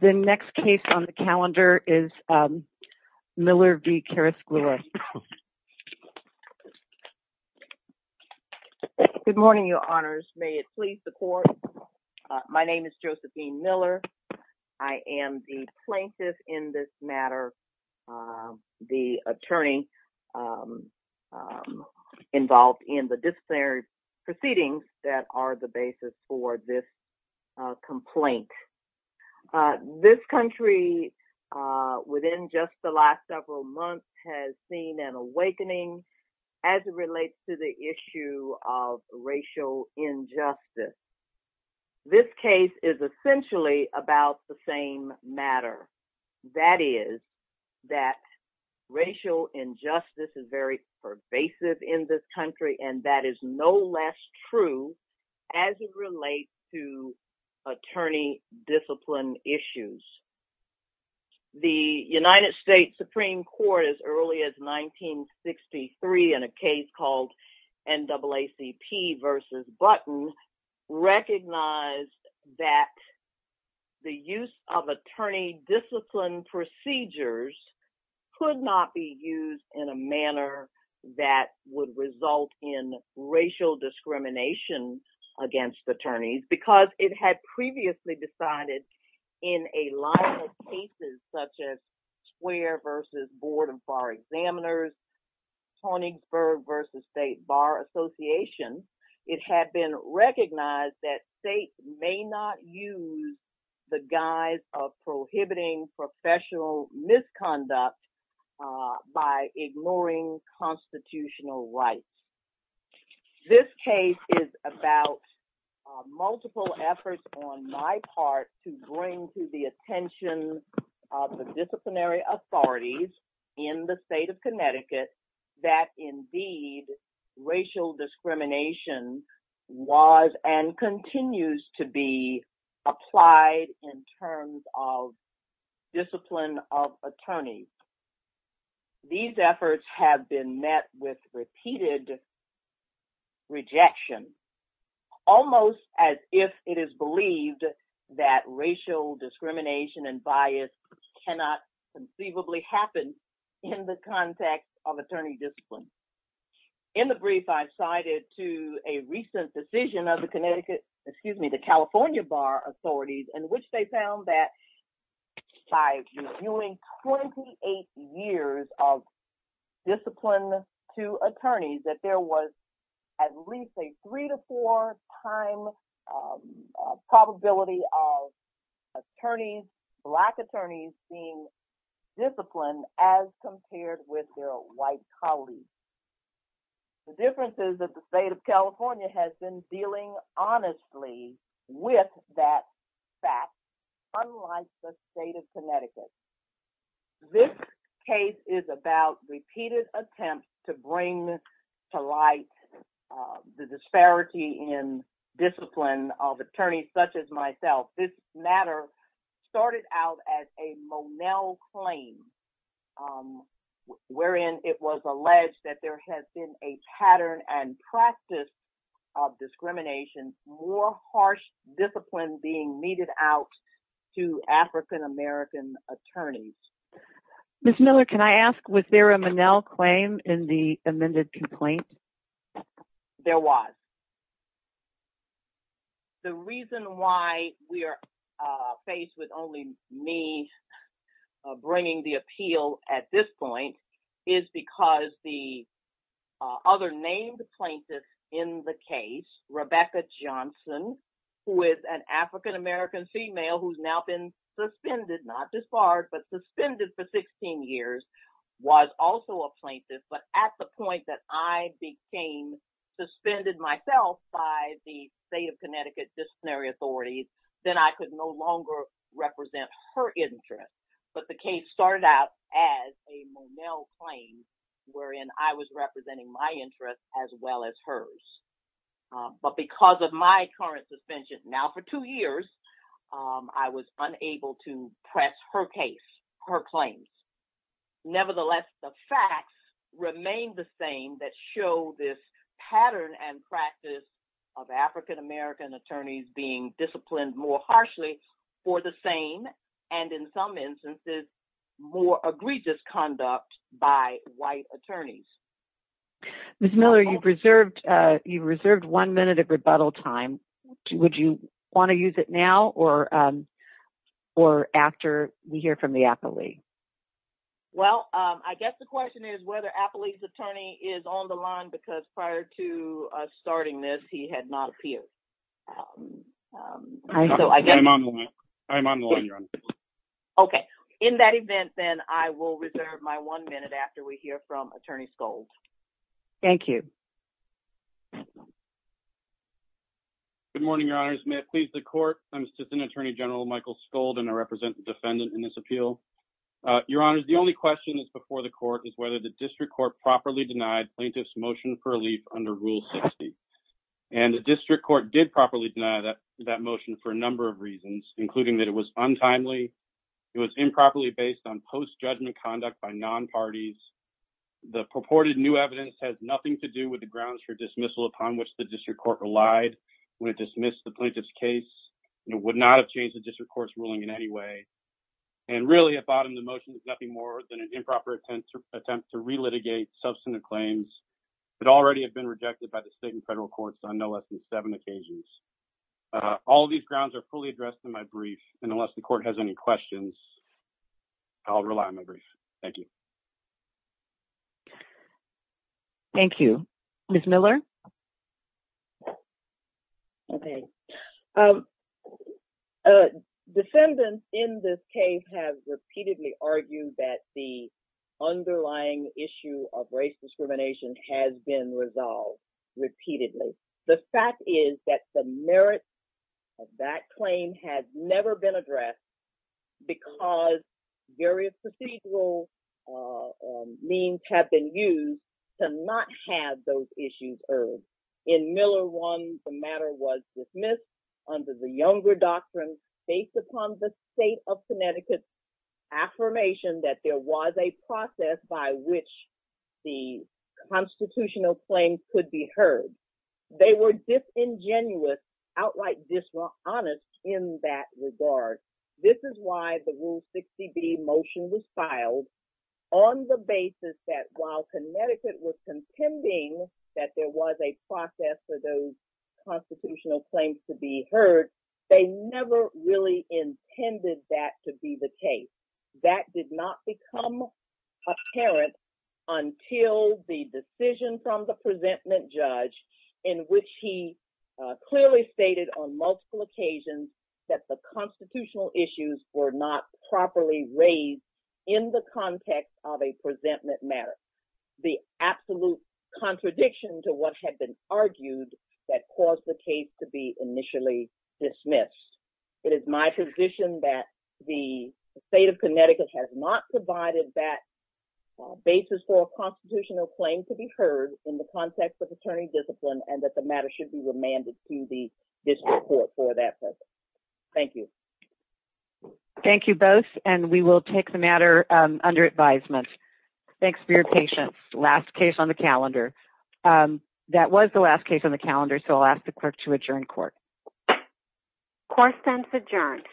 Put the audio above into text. The next case on the calendar is Miller v. Carrasquilla. Good morning, your honors, may it please the court. My name is Josephine Miller. I am the plaintiff in this matter, the attorney involved in the disciplinary proceedings that are the basis for this complaint. This country within just the last several months has seen an awakening as it relates to the issue of racial injustice. This case is essentially about the same matter. That is that racial injustice is very pervasive in this country and that is no less true as it relates to attorney discipline issues. The United States Supreme Court as early as 1963 in a case called NAACP v. Button recognized that the use of attorney discipline procedures could not be used in a manner that would result in racial discrimination against attorneys because it had previously decided in a line of cases such as Square v. Board of Bar Examiners, Tonigsburg v. State Bar Association, it had been recognized that states may not use the guise of prohibiting professional misconduct by ignoring constitutional rights. This case is about multiple efforts on my part to bring to the attention of the disciplinary authorities in the state of Connecticut that indeed racial discrimination was and continues to be applied in terms of discipline of attorneys. These efforts have been met with repeated rejection almost as if it is believed that racial discrimination and bias cannot conceivably happen in the context of attorney discipline. In the brief I cited to a recent decision of the Connecticut, excuse me, the California Bar Authorities in which they found that by reviewing 28 years of discipline to attorneys that there was at least a three to four time probability of attorneys, black attorneys being disciplined as compared with their white colleagues. The difference is that the state of California has been dealing honestly with that fact unlike the state of Connecticut. This case is about repeated attempts to bring to light the disparity in discipline of attorneys such as myself. This matter started out as a Monell claim wherein it was alleged that there has been a pattern and practice of discrimination, more harsh discipline being meted out to African American attorneys. Ms. Miller, can I ask was there a Monell claim in the amended complaint? There was. The reason why we are faced with only me bringing the appeal at this point is because the other named plaintiff in the case, Rebecca Johnson, who is an African American female who's now been suspended, not disbarred, but suspended for 16 years was also a plaintiff. But at the point that I became suspended myself by the state of Connecticut disciplinary authorities, then I could no longer represent her interest. But the case started out as a Monell claim wherein I was representing my interest as well as hers. But because of my current suspension now for two years, I was unable to press her case, her claims. Nevertheless, the facts remain the same that show this pattern and practice of African American attorneys being disciplined more harshly for the same. And in some instances, more egregious conduct by white attorneys. Ms. Miller, you've reserved one minute of rebuttal time. Would you wanna use it now or after we hear from the appellee? Well, I guess the question is whether appellee's attorney is on the line because prior to starting this, he had not appealed. I'm on the line, I'm on the line, Your Honor. Okay, in that event, then I will reserve my one minute after we hear from Attorney Scold. Thank you. Good morning, Your Honors. May it please the court. I'm Assistant Attorney General Michael Scold and I represent the defendant in this appeal. Your Honors, the only question that's before the court is whether the district court properly denied plaintiff's motion for relief under Rule 60. And the district court did not or did properly deny that motion for a number of reasons, including that it was untimely, it was improperly based on post-judgment conduct by non-parties, the purported new evidence has nothing to do with the grounds for dismissal upon which the district court relied when it dismissed the plaintiff's case and it would not have changed the district court's ruling in any way. And really at bottom, the motion is nothing more than an improper attempt to re-litigate substantive claims that already have been rejected by the state and federal courts on no less than seven occasions. All of these grounds are fully addressed in my brief and unless the court has any questions, I'll rely on my brief. Thank you. Thank you. Ms. Miller. Okay. Defendants in this case have repeatedly argued that the underlying issue of race discrimination has been resolved repeatedly. The fact is that the merit of that claim has never been addressed because various procedural means have been used to not have those issues urged. In Miller one, the matter was dismissed under the Younger Doctrine based upon the state of Connecticut affirmation that there was a process by which the constitutional claims could be heard. They were disingenuous, outright dishonest in that regard. This is why the Rule 60B motion was filed on the basis that while Connecticut was contending that there was a process for those constitutional claims to be heard, they never really intended that to be the case. That did not become apparent until the decision from the presentment judge in which he clearly stated on multiple occasions that the constitutional issues were not properly raised in the context of a presentment matter. The absolute contradiction to what had been argued that caused the case to be initially dismissed. It is my position that the state of Connecticut has not provided that basis for a constitutional claim to be heard in the context of attorney discipline and that the matter should be remanded to the district court for that purpose. Thank you. Thank you both. And we will take the matter under advisement. Thanks for your patience. Last case on the calendar. That was the last case on the calendar. So I'll ask the clerk to adjourn court. Court stands adjourned.